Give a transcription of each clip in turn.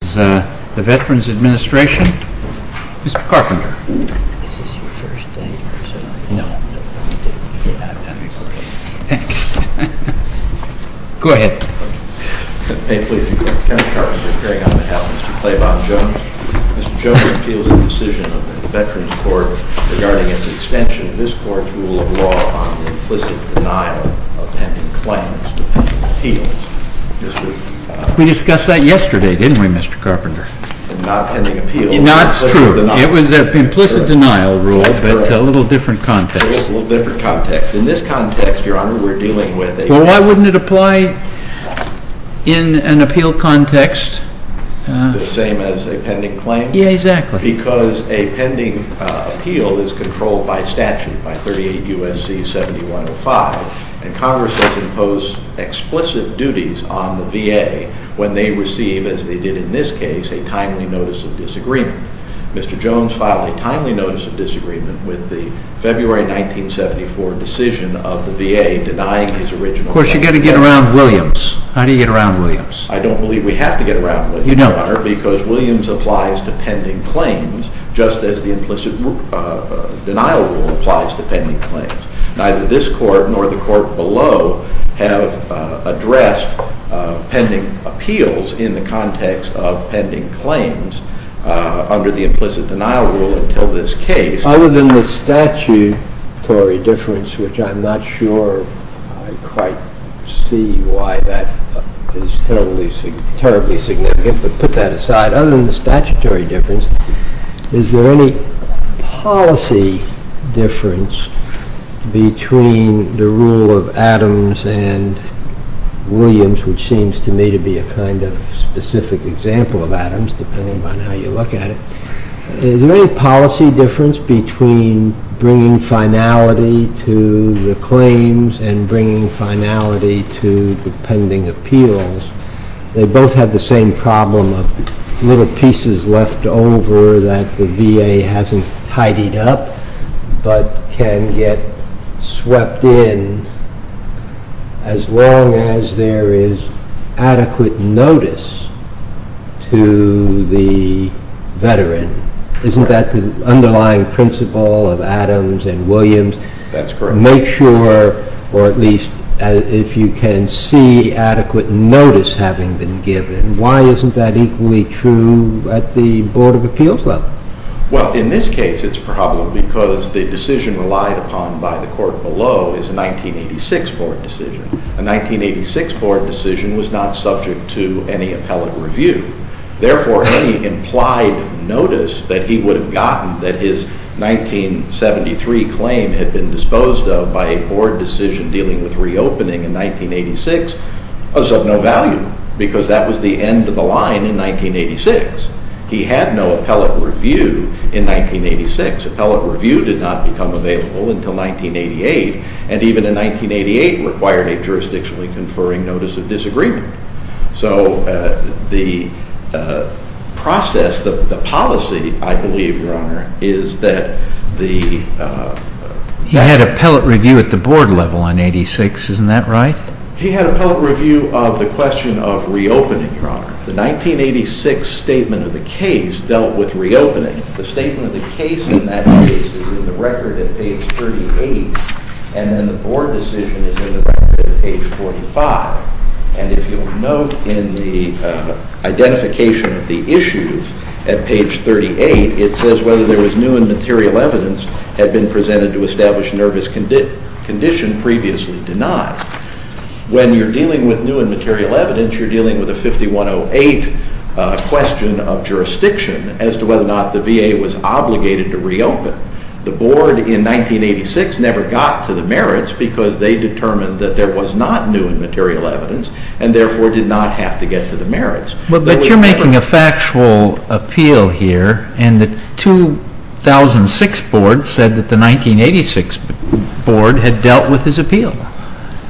This is the Veterans Administration, Mr. Carpenter. Is this your first day? No. I've got to record it. Thanks. Go ahead. May it please the Court. Senator Carpenter appearing on behalf of Mr. Claiborne Jones. Mr. Jones appeals the decision of the Veterans Court regarding its extension of this Court's rule of law on the implicit denial of pending claims to pending appeals. We discussed that yesterday, didn't we, Mr. Carpenter? Not pending appeal. It's true. It was an implicit denial rule, but a little different context. A little different context. In this context, Your Honor, we're dealing with a… Well, why wouldn't it apply in an appeal context? The same as a pending claim? Yeah, exactly. Because a pending appeal is controlled by statute, by 38 U.S.C. 7105, and Congress has imposed explicit duties on the VA when they receive, as they did in this case, a timely notice of disagreement. Mr. Jones filed a timely notice of disagreement with the February 1974 decision of the VA denying his original… Of course, you've got to get around Williams. How do you get around Williams? I don't believe we have to get around Williams, Your Honor, because Williams applies to pending claims just as the implicit denial rule applies to pending claims. Neither this Court nor the Court below have addressed pending appeals in the context of pending claims under the implicit denial rule until this case. Other than the statutory difference, which I'm not sure I quite see why that is terribly significant, but put that aside. Other than the statutory difference, is there any policy difference between the rule of Adams and Williams, which seems to me to be a kind of specific example of Adams, depending on how you look at it. Is there any policy difference between bringing finality to the claims and bringing finality to the pending appeals? They both have the same problem of little pieces left over that the VA hasn't tidied up but can get swept in as long as there is adequate notice to the veteran. Isn't that the underlying principle of Adams and Williams? That's correct. Make sure, or at least if you can see, adequate notice having been given. Why isn't that equally true at the Board of Appeals level? Well, in this case it's probably because the decision relied upon by the Court below is a 1986 Board decision. A 1986 Board decision was not subject to any appellate review. Therefore, any implied notice that he would have gotten that his 1973 claim had been disposed of by a Board decision dealing with reopening in 1986 was of no value because that was the end of the line in 1986. He had no appellate review in 1986. Appellate review did not become available until 1988, and even in 1988 required a jurisdictionally conferring notice of disagreement. So the process, the policy, I believe, Your Honor, is that the... He had appellate review at the Board level in 1986. Isn't that right? He had appellate review of the question of reopening, Your Honor. The 1986 statement of the case dealt with reopening. The statement of the case in that case is in the record at page 38, and then the Board decision is in the record at page 45. And if you'll note in the identification of the issues at page 38, it says whether there was new and material evidence had been presented to establish nervous condition previously denied. When you're dealing with new and material evidence, you're dealing with a 5108 question of jurisdiction as to whether or not the VA was obligated to reopen. The Board in 1986 never got to the merits because they determined that there was not new and material evidence and therefore did not have to get to the merits. But you're making a factual appeal here, and the 2006 Board said that the 1986 Board had dealt with his appeal.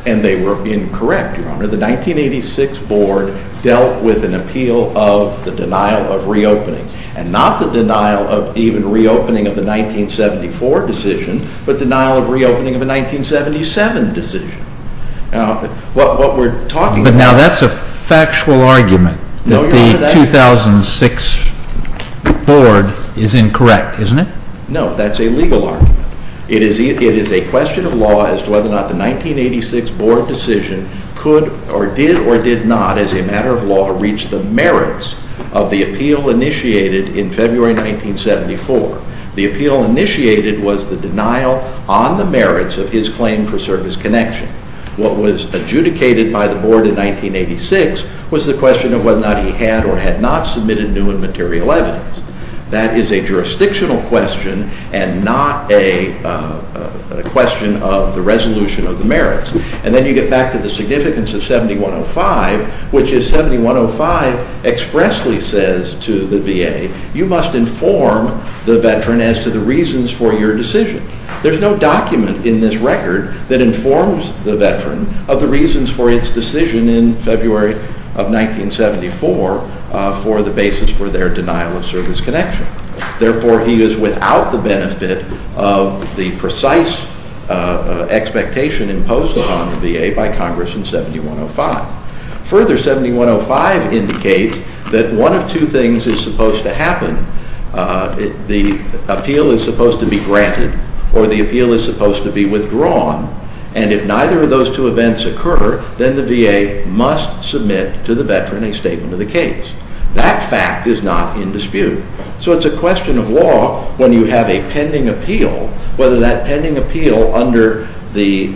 And they were incorrect, Your Honor. The 1986 Board dealt with an appeal of the denial of reopening, and not the denial of even reopening of the 1974 decision, but denial of reopening of a 1977 decision. What we're talking about- But now that's a factual argument that the 2006 Board is incorrect, isn't it? No, that's a legal argument. It is a question of law as to whether or not the 1986 Board decision could or did or did not, as a matter of law, reach the merits of the appeal initiated in February 1974. The appeal initiated was the denial on the merits of his claim for service connection. What was adjudicated by the Board in 1986 was the question of whether or not he had or had not submitted new and material evidence. That is a jurisdictional question and not a question of the resolution of the merits. And then you get back to the significance of 7105, which is 7105 expressly says to the VA, you must inform the veteran as to the reasons for your decision. There's no document in this record that informs the veteran of the reasons for its decision in February of 1974 for the basis for their denial of service connection. Therefore, he is without the benefit of the precise expectation imposed upon the VA by Congress in 7105. Further, 7105 indicates that one of two things is supposed to happen. The appeal is supposed to be granted or the appeal is supposed to be withdrawn. And if neither of those two events occur, then the VA must submit to the veteran a statement of the case. That fact is not in dispute. So it's a question of law when you have a pending appeal, whether that pending appeal under the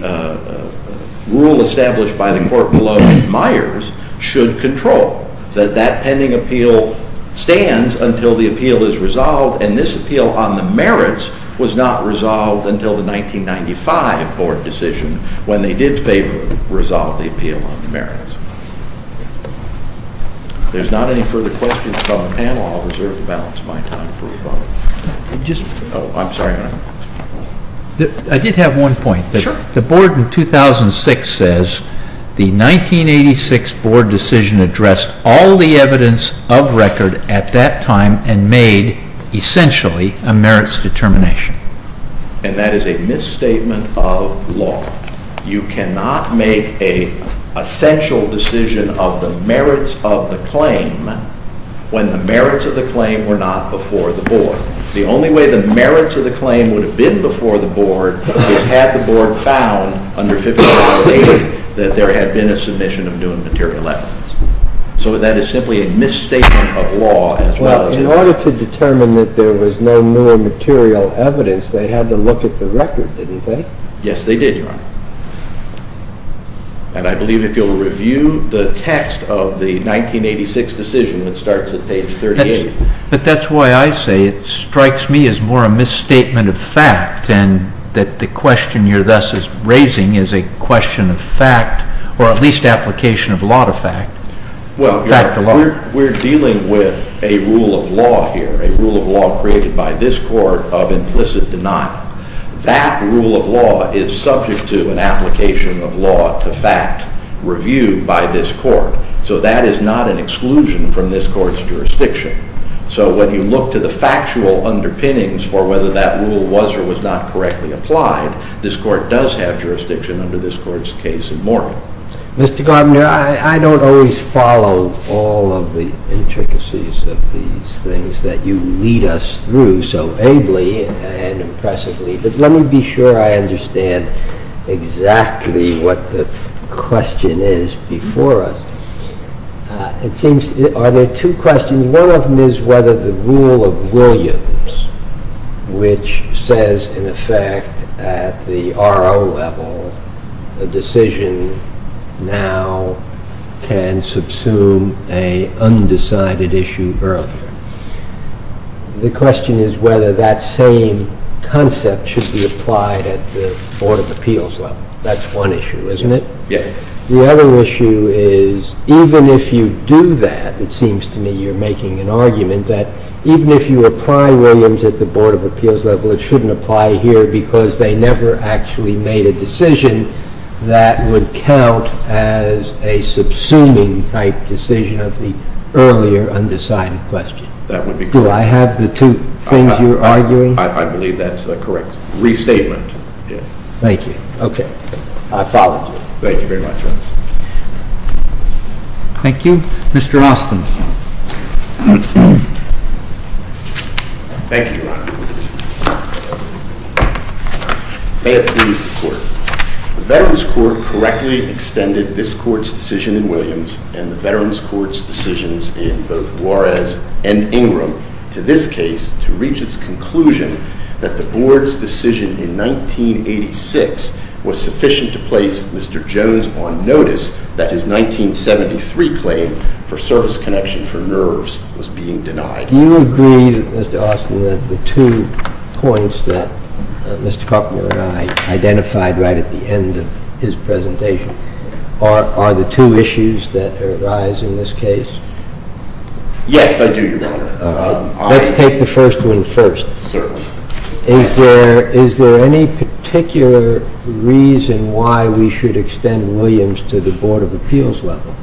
rule established by the court below Myers should control. That that pending appeal stands until the appeal is resolved. And this appeal on the merits was not resolved until the 1995 Board decision when they did favorably resolve the appeal on the merits. If there's not any further questions from the panel, I'll reserve the balance of my time for rebuttal. Oh, I'm sorry. I did have one point. Sure. The Board in 2006 says the 1986 Board decision addressed all the evidence of record at that time and made, essentially, a merits determination. And that is a misstatement of law. You cannot make an essential decision of the merits of the claim when the merits of the claim were not before the Board. The only way the merits of the claim would have been before the Board is had the Board found under 1580 that there had been a submission of new material evidence. So that is simply a misstatement of law as well as evidence. Well, in order to determine that there was no more material evidence, they had to look at the record, didn't they? Yes, they did, Your Honor. And I believe if you'll review the text of the 1986 decision, it starts at page 38. But that's why I say it strikes me as more a misstatement of fact and that the question you're thus raising is a question of fact or at least application of law to fact. Well, we're dealing with a rule of law here, a rule of law created by this Court of implicit denial. That rule of law is subject to an application of law to fact reviewed by this Court. So that is not an exclusion from this Court's jurisdiction. So when you look to the factual underpinnings for whether that rule was or was not correctly applied, this Court does have jurisdiction under this Court's case in Morgan. Mr. Gardner, I don't always follow all of the intricacies of these things that you lead us through so ably and impressively. But let me be sure I understand exactly what the question is before us. It seems, are there two questions? One of them is whether the rule of Williams, which says in effect at the R.O. level a decision now can subsume an undecided issue earlier. The question is whether that same concept should be applied at the Board of Appeals level. That's one issue, isn't it? Yes. The other issue is even if you do that, it seems to me you're making an argument that even if you apply Williams at the Board of Appeals level, it shouldn't apply here because they never actually made a decision that would count as a subsuming type decision of the earlier undecided question. That would be correct. Do I have the two things you're arguing? I believe that's correct. Restatement, yes. Thank you. Okay. I followed you. Thank you very much. Thank you. Mr. Austin. Thank you, Your Honor. May it please the Court. The Veterans Court correctly extended this Court's decision in Williams and the Veterans Court's decisions in both Juarez and Ingram to this case to reach its conclusion that the Board's decision in 1986 was sufficient to place Mr. Jones on notice that his 1973 claim for service connection for nerves was being denied. Do you agree, Mr. Austin, that the two points that Mr. Carpenter and I identified right at the end of his presentation are the two issues that arise in this case? Let's take the first one first. Certainly. Is there any particular reason why we should extend Williams to the Board of Appeals level?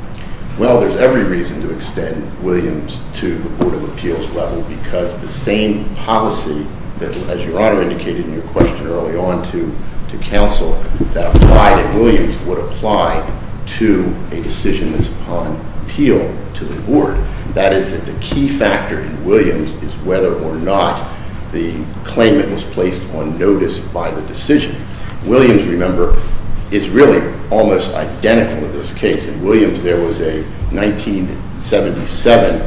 Well, there's every reason to extend Williams to the Board of Appeals level because the same policy that, as Your Honor indicated in your question early on to counsel, that applied in Williams would apply to a decision that's upon appeal to the Board. That is that the key factor in Williams is whether or not the claimant was placed on notice by the decision. Williams, remember, is really almost identical in this case. In Williams, there was a 1977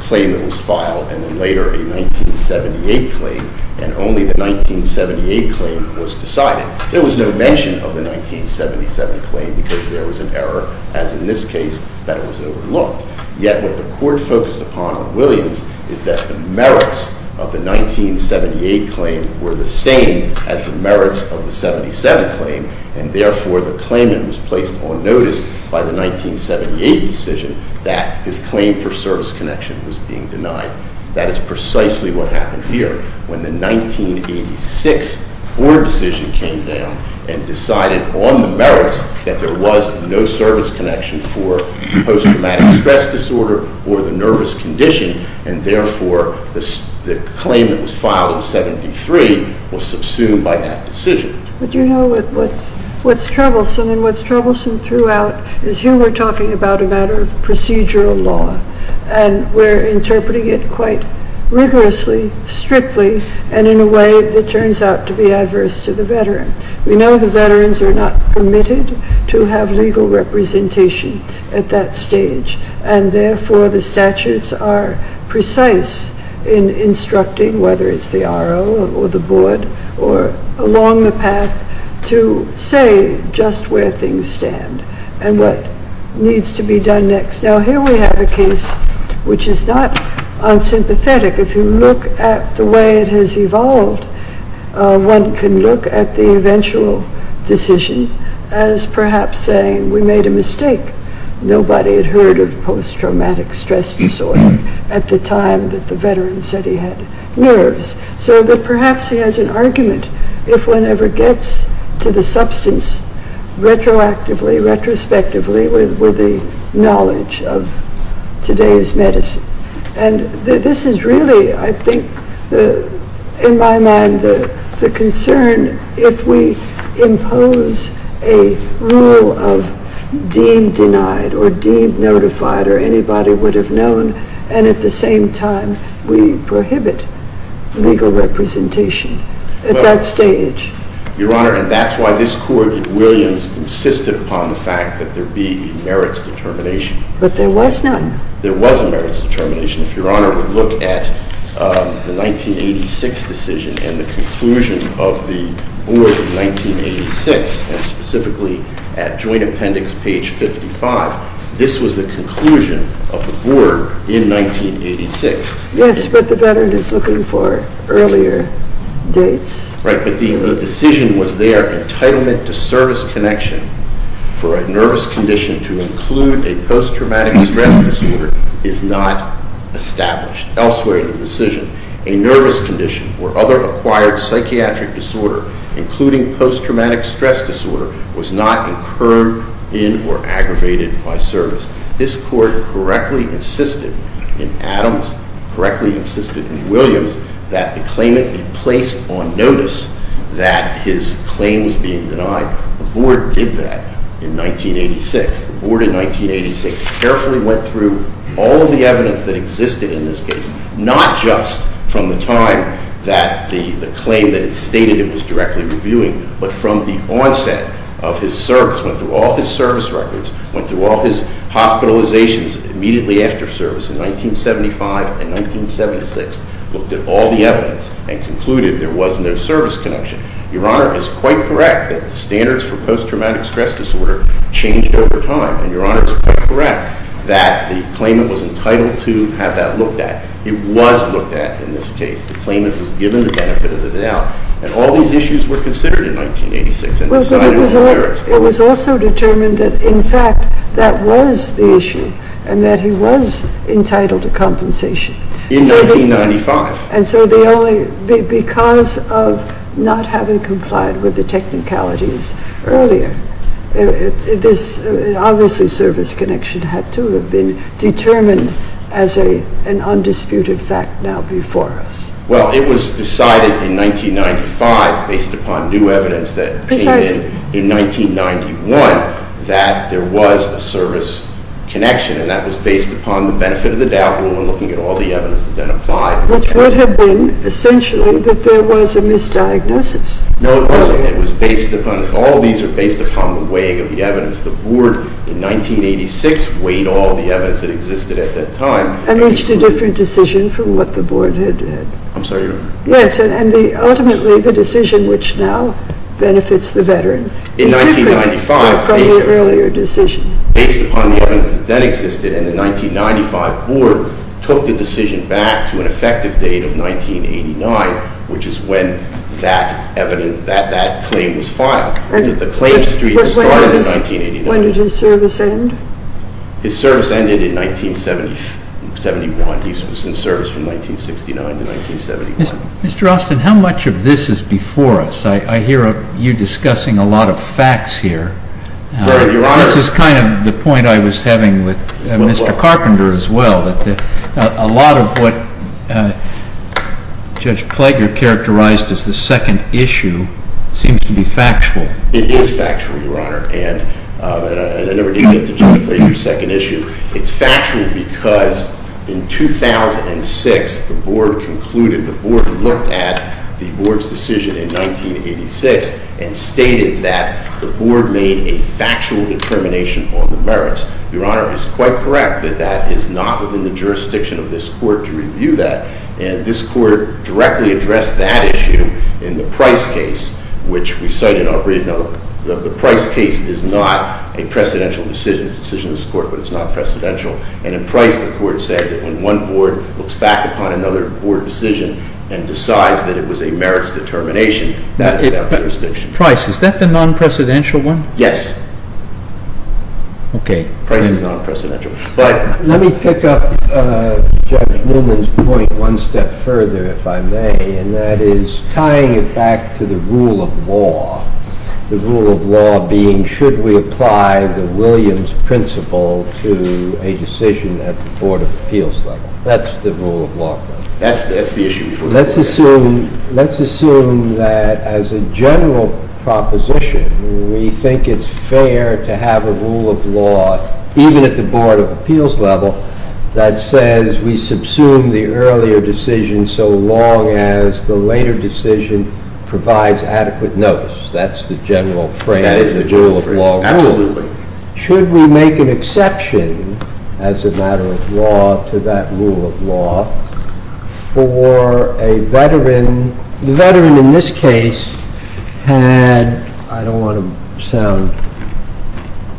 claim that was filed and then later a 1978 claim, and only the 1978 claim was decided. There was no mention of the 1977 claim because there was an error, as in this case, that it was overlooked. Yet what the court focused upon on Williams is that the merits of the 1978 claim were the same as the merits of the 77 claim, and therefore the claimant was placed on notice by the 1978 decision that his claim for service connection was being denied. That is precisely what happened here. When the 1986 Board decision came down and decided on the merits that there was no service connection for post-traumatic stress disorder or the nervous condition, and therefore the claim that was filed in 73 was subsumed by that decision. But you know what's troublesome and what's troublesome throughout is here we're talking about a matter of procedural law, and we're interpreting it quite rigorously, strictly, and in a way that turns out to be adverse to the veteran. We know the veterans are not permitted to have legal representation at that stage, and therefore the statutes are precise in instructing, whether it's the RO or the Board or along the path, to say just where things stand and what needs to be done next. Now here we have a case which is not unsympathetic. If you look at the way it has evolved, one can look at the eventual decision as perhaps saying we made a mistake. Nobody had heard of post-traumatic stress disorder at the time that the veteran said he had nerves. So that perhaps he has an argument if one ever gets to the substance retroactively, retrospectively, with the knowledge of today's medicine. And this is really, I think, in my mind, the concern if we impose a rule of deemed denied or deemed notified or anybody would have known, and at the same time we prohibit legal representation at that stage. Your Honor, and that's why this Court in Williams insisted upon the fact that there be a merits determination. But there was none. There was a merits determination. If Your Honor would look at the 1986 decision and the conclusion of the Board in 1986, and specifically at Joint Appendix page 55, this was the conclusion of the Board in 1986. Yes, but the veteran is looking for earlier dates. Right, but the decision was there. Entitlement to service connection for a nervous condition to include a post-traumatic stress disorder is not established. Elsewhere in the decision, a nervous condition or other acquired psychiatric disorder, including post-traumatic stress disorder, was not incurred in or aggravated by service. This Court correctly insisted in Adams, correctly insisted in Williams, that the claimant be placed on notice that his claim was being denied. The Board did that in 1986. The Board in 1986 carefully went through all of the evidence that existed in this case, not just from the time that the claim that it stated it was directly reviewing, but from the onset of his service, went through all his service records, went through all his hospitalizations immediately after service in 1975 and 1976, looked at all the evidence, and concluded there was no service connection. Your Honor, it's quite correct that the standards for post-traumatic stress disorder changed over time. And Your Honor, it's quite correct that the claimant was entitled to have that looked at. It was looked at in this case. The claimant was given the benefit of the doubt. And all these issues were considered in 1986 and decided as merits. Well, but it was also determined that, in fact, that was the issue and that he was entitled to compensation. In 1995. And so because of not having complied with the technicalities earlier, obviously service connection had to have been determined as an undisputed fact now before us. Well, it was decided in 1995, based upon new evidence that came in in 1991, that there was a service connection. And that was based upon the benefit of the doubt, which would have been, essentially, that there was a misdiagnosis. No, it wasn't. It was based upon it. All these are based upon the weighing of the evidence. The Board, in 1986, weighed all the evidence that existed at that time. And reached a different decision from what the Board had. I'm sorry, Your Honor? Yes. And ultimately, the decision which now benefits the veteran is different from the earlier decision. Based upon the evidence that then existed in the 1995 Board, took the decision back to an effective date of 1989, which is when that evidence, that claim was filed. The claim streak started in 1989. When did his service end? His service ended in 1971. He was in service from 1969 to 1971. Mr. Austin, how much of this is before us? I hear you discussing a lot of facts here. Your Honor. This is kind of the point I was having with Mr. Carpenter as well. A lot of what Judge Plager characterized as the second issue seems to be factual. It is factual, Your Honor. And I never did get to judge Plager's second issue. It's factual because in 2006, the Board concluded, the Board looked at the Board's decision in 1986 and stated that the Board made a factual determination on the merits. Your Honor, it's quite correct that that is not within the jurisdiction of this Court to review that. And this Court directly addressed that issue in the Price case, which we cite in our brief. Now, the Price case is not a precedential decision. It's a decision of this Court, but it's not precedential. And in Price, the Court said that when one Board looks back upon another Board decision and decides that it was a merits determination, it's not a decision of this Court to review and make a factual determination on the merits. And in the case of Price, the Court said that the Board did not make a factual determination. That's a distinction. But Price, is that the non-precedential one? Yes. Okay. Price is non-precedential. But let me pick up Judge Newman's point one step further, if I may, and that is tying it back to the rule of law. The rule of law being, should we apply the Williams principle to a decision at the Board of Appeals level? That's the rule of law. That's the issue. Let's assume that as a general proposition, we think it's fair to have a rule of law, even at the Board of Appeals level, that says we subsume the earlier decision so long as the later decision provides adequate notice. That's the general phrase. Absolutely. Should we make an exception as a matter of law to that rule of law for a veteran? The veteran in this case had, I don't want to sound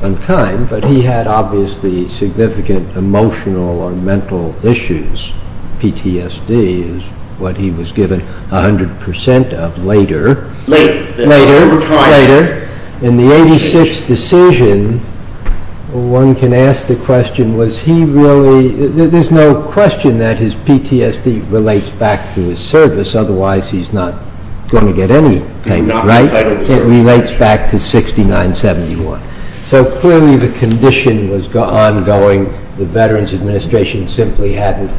unkind, but he had obviously significant emotional or mental issues. PTSD is what he was given 100 percent of later. Later. Later. Over time. Later. In the 86th decision, one can ask the question, was he really, there's no question that his PTSD relates back to his service, otherwise he's not going to get any payment, right? It relates back to 6971. So clearly the condition was ongoing. The Veterans Administration simply hadn't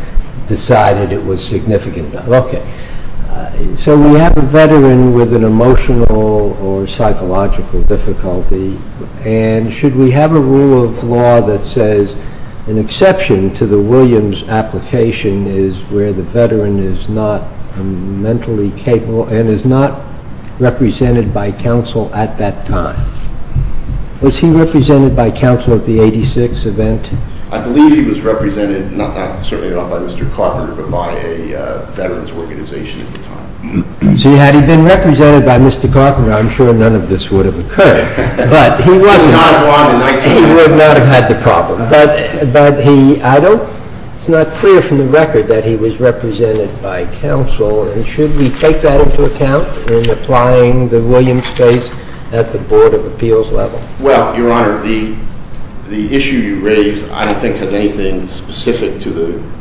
decided it was significant enough. Okay. So we have a veteran with an emotional or psychological difficulty, and should we have a rule of law that says an exception to the Williams application is where the veteran is not mentally capable and is not represented by counsel at that time? Was he represented by counsel at the 86th event? I believe he was represented, certainly not by Mr. Carpenter, but by a veterans organization at the time. So had he been represented by Mr. Carpenter, I'm sure none of this would have occurred. He would not have had the problem. But I don't, it's not clear from the record that he was represented by counsel, and should we take that into account in applying the Williams case at the Board of Appeals level? Well, Your Honor, the issue you raise I don't think has anything specific to the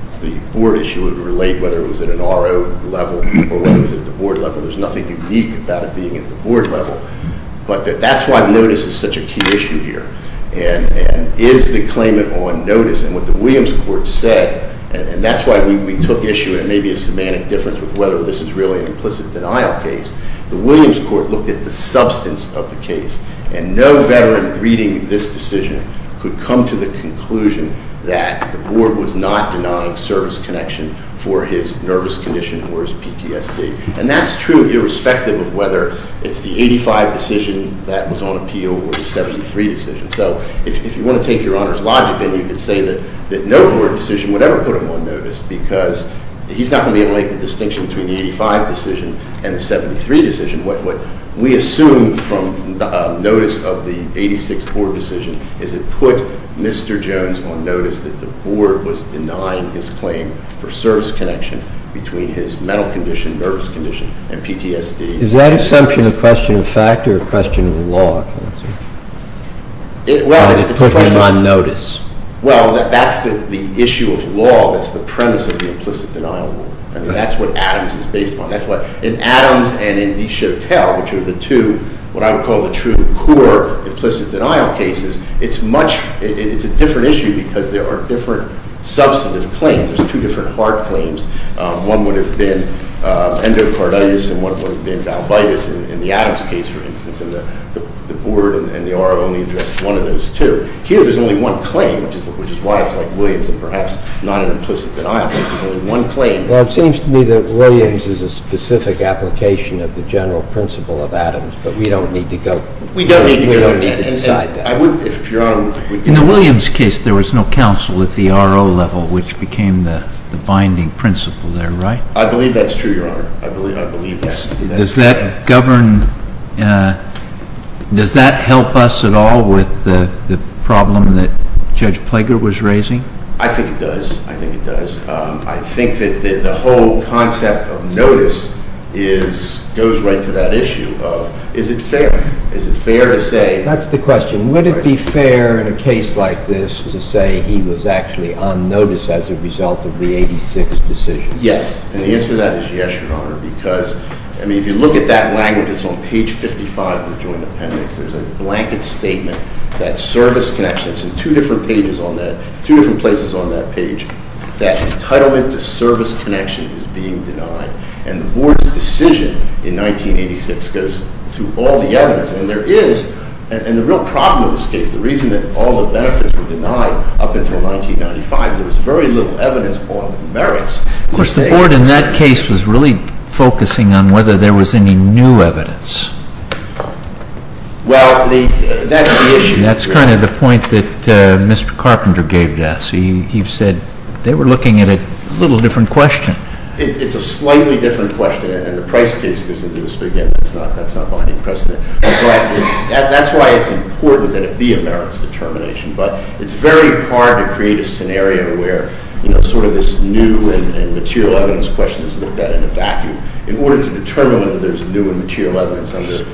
board issue. It would relate whether it was at an RO level or whether it was at the board level. There's nothing unique about it being at the board level. But that's why notice is such a key issue here, and is the claimant on notice. And what the Williams court said, and that's why we took issue, and it may be a semantic difference with whether this is really an implicit denial case. The Williams court looked at the substance of the case, and no veteran reading this decision could come to the conclusion that the board was not denying service connection for his nervous condition or his PTSD. And that's true irrespective of whether it's the 85 decision that was on appeal or the 73 decision. So if you want to take Your Honor's logic in, you could say that no board decision would ever put him on notice because he's not going to be able to make the distinction between the 85 decision and the 73 decision. What we assume from notice of the 86 board decision is it put Mr. Jones on notice that the board was denying his claim for service connection between his mental condition, nervous condition, and PTSD. Is that assumption a question of fact or a question of law? Well, it's a question of- Putting him on notice. Well, that's the issue of law. That's the premise of the implicit denial rule. I mean, that's what Adams is based upon. That's why in Adams and in Deshotel, which are the two, what I would call the true core implicit denial cases, it's a different issue because there are different substantive claims. There's two different hard claims. One would have been endocarditis, and one would have been valvitis in the Adams case, for instance. And the board and the ORA only addressed one of those two. Here, there's only one claim, which is why it's like Williams and perhaps not an implicit denial case. There's only one claim. Well, it seems to me that Williams is a specific application of the general principle of Adams, but we don't need to go- We don't need to go there. We don't need to decide that. I would, if Your Honor would- In the Williams case, there was no counsel at the RO level, which became the binding principle there, right? I believe that's true, Your Honor. I believe that. Does that help us at all with the problem that Judge Plager was raising? I think it does. I think it does. I think that the whole concept of notice goes right to that issue of is it fair? Is it fair to say- That's the question. Would it be fair in a case like this to say he was actually on notice as a result of the 86 decisions? Yes. And the answer to that is yes, Your Honor, because, I mean, if you look at that language, it's on page 55 of the joint appendix. There's a blanket statement that service connections, and two different pages on that, two different places on that page, that entitlement to service connection is being denied. And the board's decision in 1986 goes through all the evidence. And there is, and the real problem with this case, the reason that all the benefits were denied up until 1995 is there was very little evidence on the merits. Of course, the board in that case was really focusing on whether there was any new evidence. Well, that's the issue. That's kind of the point that Mr. Carpenter gave to us. He said they were looking at a little different question. It's a slightly different question, and the price case goes into this, but, again, that's not my precedent. But that's why it's important that it be a merits determination. But it's very hard to create a scenario where, you know, sort of this new and material evidence question is looked at in a vacuum. In order to determine whether there's new and material evidence under the-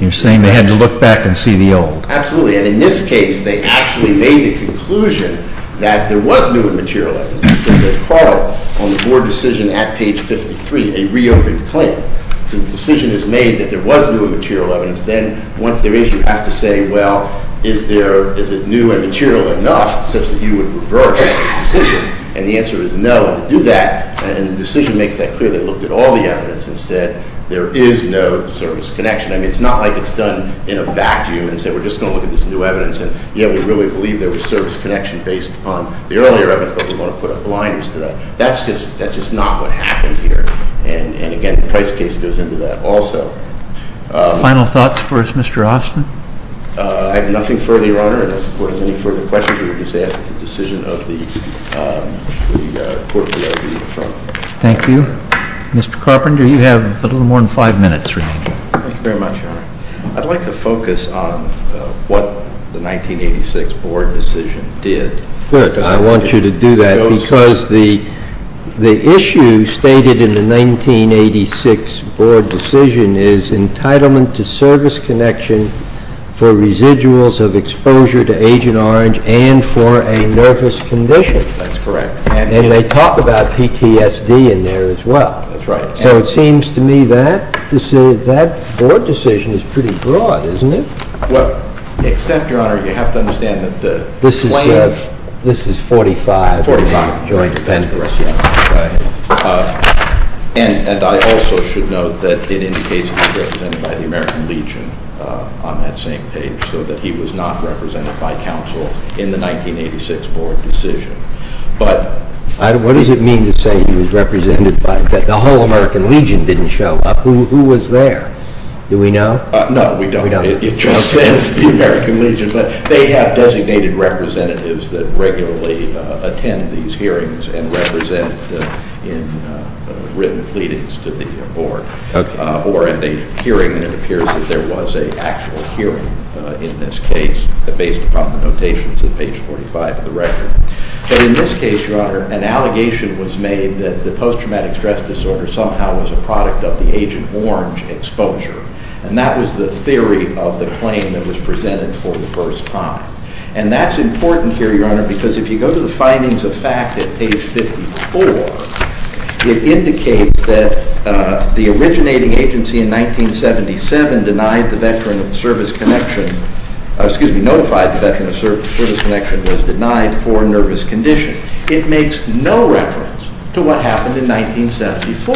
You're saying they had to look back and see the old. Absolutely. And in this case, they actually made the conclusion that there was new and material evidence. There's part of it on the board decision at page 53, a reopened claim. So the decision is made that there was new and material evidence. Then, once there is, you have to say, well, is there- Is it new and material enough such that you would reverse the decision? And the answer is no. And to do that- And the decision makes that clear. They looked at all the evidence and said there is no service connection. I mean, it's not like it's done in a vacuum and said we're just going to look at this new evidence. And, yeah, we really believe there was service connection based on the earlier evidence, but we want to put up blinders to that. That's just not what happened here. And, again, the price case goes into that also. Final thoughts for us, Mr. Ostman? I have nothing further, Your Honor, and I suppose if there's any further questions, we would just ask the decision of the Court of Appeals. Thank you. Mr. Carpenter, you have a little more than five minutes remaining. Thank you very much, Your Honor. I'd like to focus on what the 1986 board decision did. Good. I want you to do that because the issue stated in the 1986 board decision is entitlement to service connection for residuals of exposure to Agent Orange and for a nervous condition. That's correct. And they talk about PTSD in there as well. That's right. So it seems to me that board decision is pretty broad, isn't it? Except, Your Honor, you have to understand that the claim… This is 45. 45. It depends. And I also should note that it indicates he was represented by the American Legion on that same page, so that he was not represented by counsel in the 1986 board decision. But… What does it mean to say he was represented by – that the whole American Legion didn't show up? Who was there? Do we know? No, we don't. It just says the American Legion. But they have designated representatives that regularly attend these hearings and represent in written pleadings to the board. Okay. Or in the hearing, it appears that there was an actual hearing in this case based upon the notations at page 45 of the record. But in this case, Your Honor, an allegation was made that the post-traumatic stress disorder somehow was a product of the Agent Orange exposure. And that was the theory of the claim that was presented for the first time. And that's important here, Your Honor, because if you go to the findings of fact at page 54, it indicates that the originating agency in 1977 denied the Veteran of Service connection – excuse me, notified the Veteran of Service connection was denied for nervous condition. It makes no reference to what happened in 1974.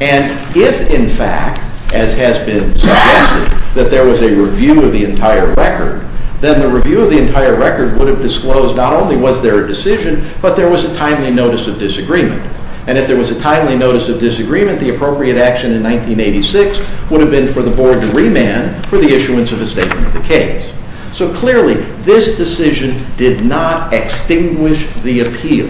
And if, in fact, as has been suggested, that there was a review of the entire record, then the review of the entire record would have disclosed not only was there a decision, but there was a timely notice of disagreement. And if there was a timely notice of disagreement, the appropriate action in 1986 would have been for the board to remand for the issuance of a statement of the case. So clearly, this decision did not extinguish the appeal.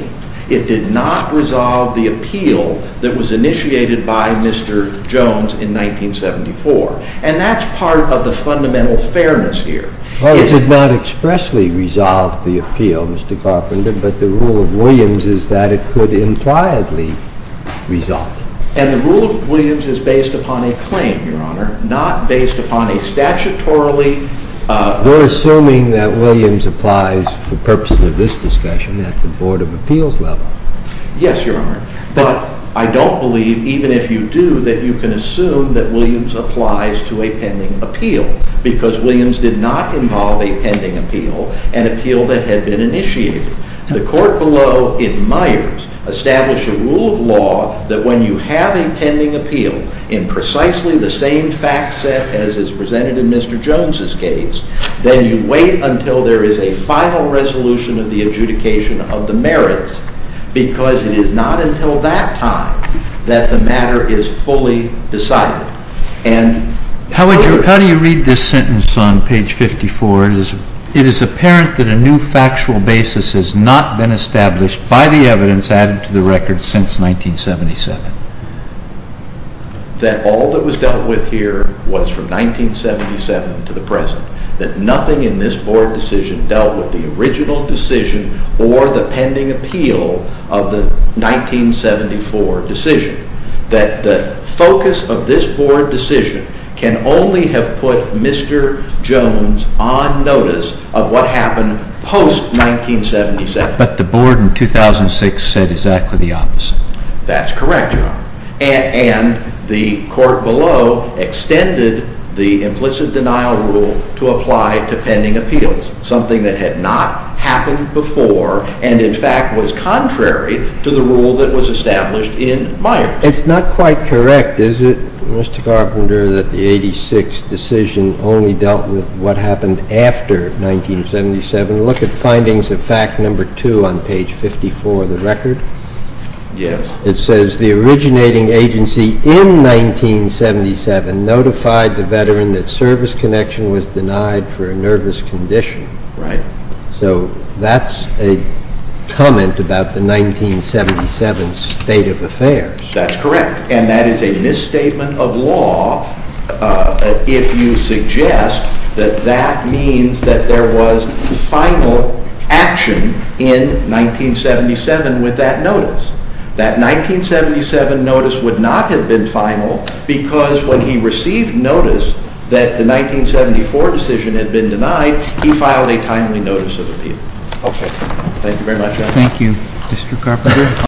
It did not resolve the appeal that was initiated by Mr. Jones in 1974. And that's part of the fundamental fairness here. It did not expressly resolve the appeal, Mr. Carpenter, but the rule of Williams is that it could impliedly resolve it. And the rule of Williams is based upon a claim, Your Honor, not based upon a statutorily – You're assuming that Williams applies for purposes of this discussion at the Board of Appeals level. Yes, Your Honor. But I don't believe, even if you do, that you can assume that Williams applies to a pending appeal, because Williams did not involve a pending appeal, an appeal that had been initiated. The court below, in Myers, established a rule of law that when you have a pending appeal in precisely the same fact set as is presented in Mr. Jones' case, then you wait until there is a final resolution of the adjudication of the merits, because it is not until that time that the matter is fully decided. How do you read this sentence on page 54? It is apparent that a new factual basis has not been established by the evidence added to the record since 1977. That all that was dealt with here was from 1977 to the present. That nothing in this Board decision dealt with the original decision or the pending appeal of the 1974 decision. That the focus of this Board decision can only have put Mr. Jones on notice of what happened post-1977. But the Board in 2006 said exactly the opposite. That's correct, Your Honor. And the court below extended the implicit denial rule to apply to pending appeals, something that had not happened before, and in fact was contrary to the rule that was established in Myers. It's not quite correct, is it, Mr. Carpenter, that the 86 decision only dealt with what happened after 1977? Look at findings of fact number 2 on page 54 of the record. Yes. It says the originating agency in 1977 notified the veteran that service connection was denied for a nervous condition. Right. So that's a comment about the 1977 State of Affairs. That's correct. And that is a misstatement of law if you suggest that that means that there was final action in 1977 with that notice. That 1977 notice would not have been final because when he received notice that the 1974 decision had been denied, he filed a timely notice of appeal. Okay. Thank you very much, Your Honor. Thank you, Mr. Carpenter.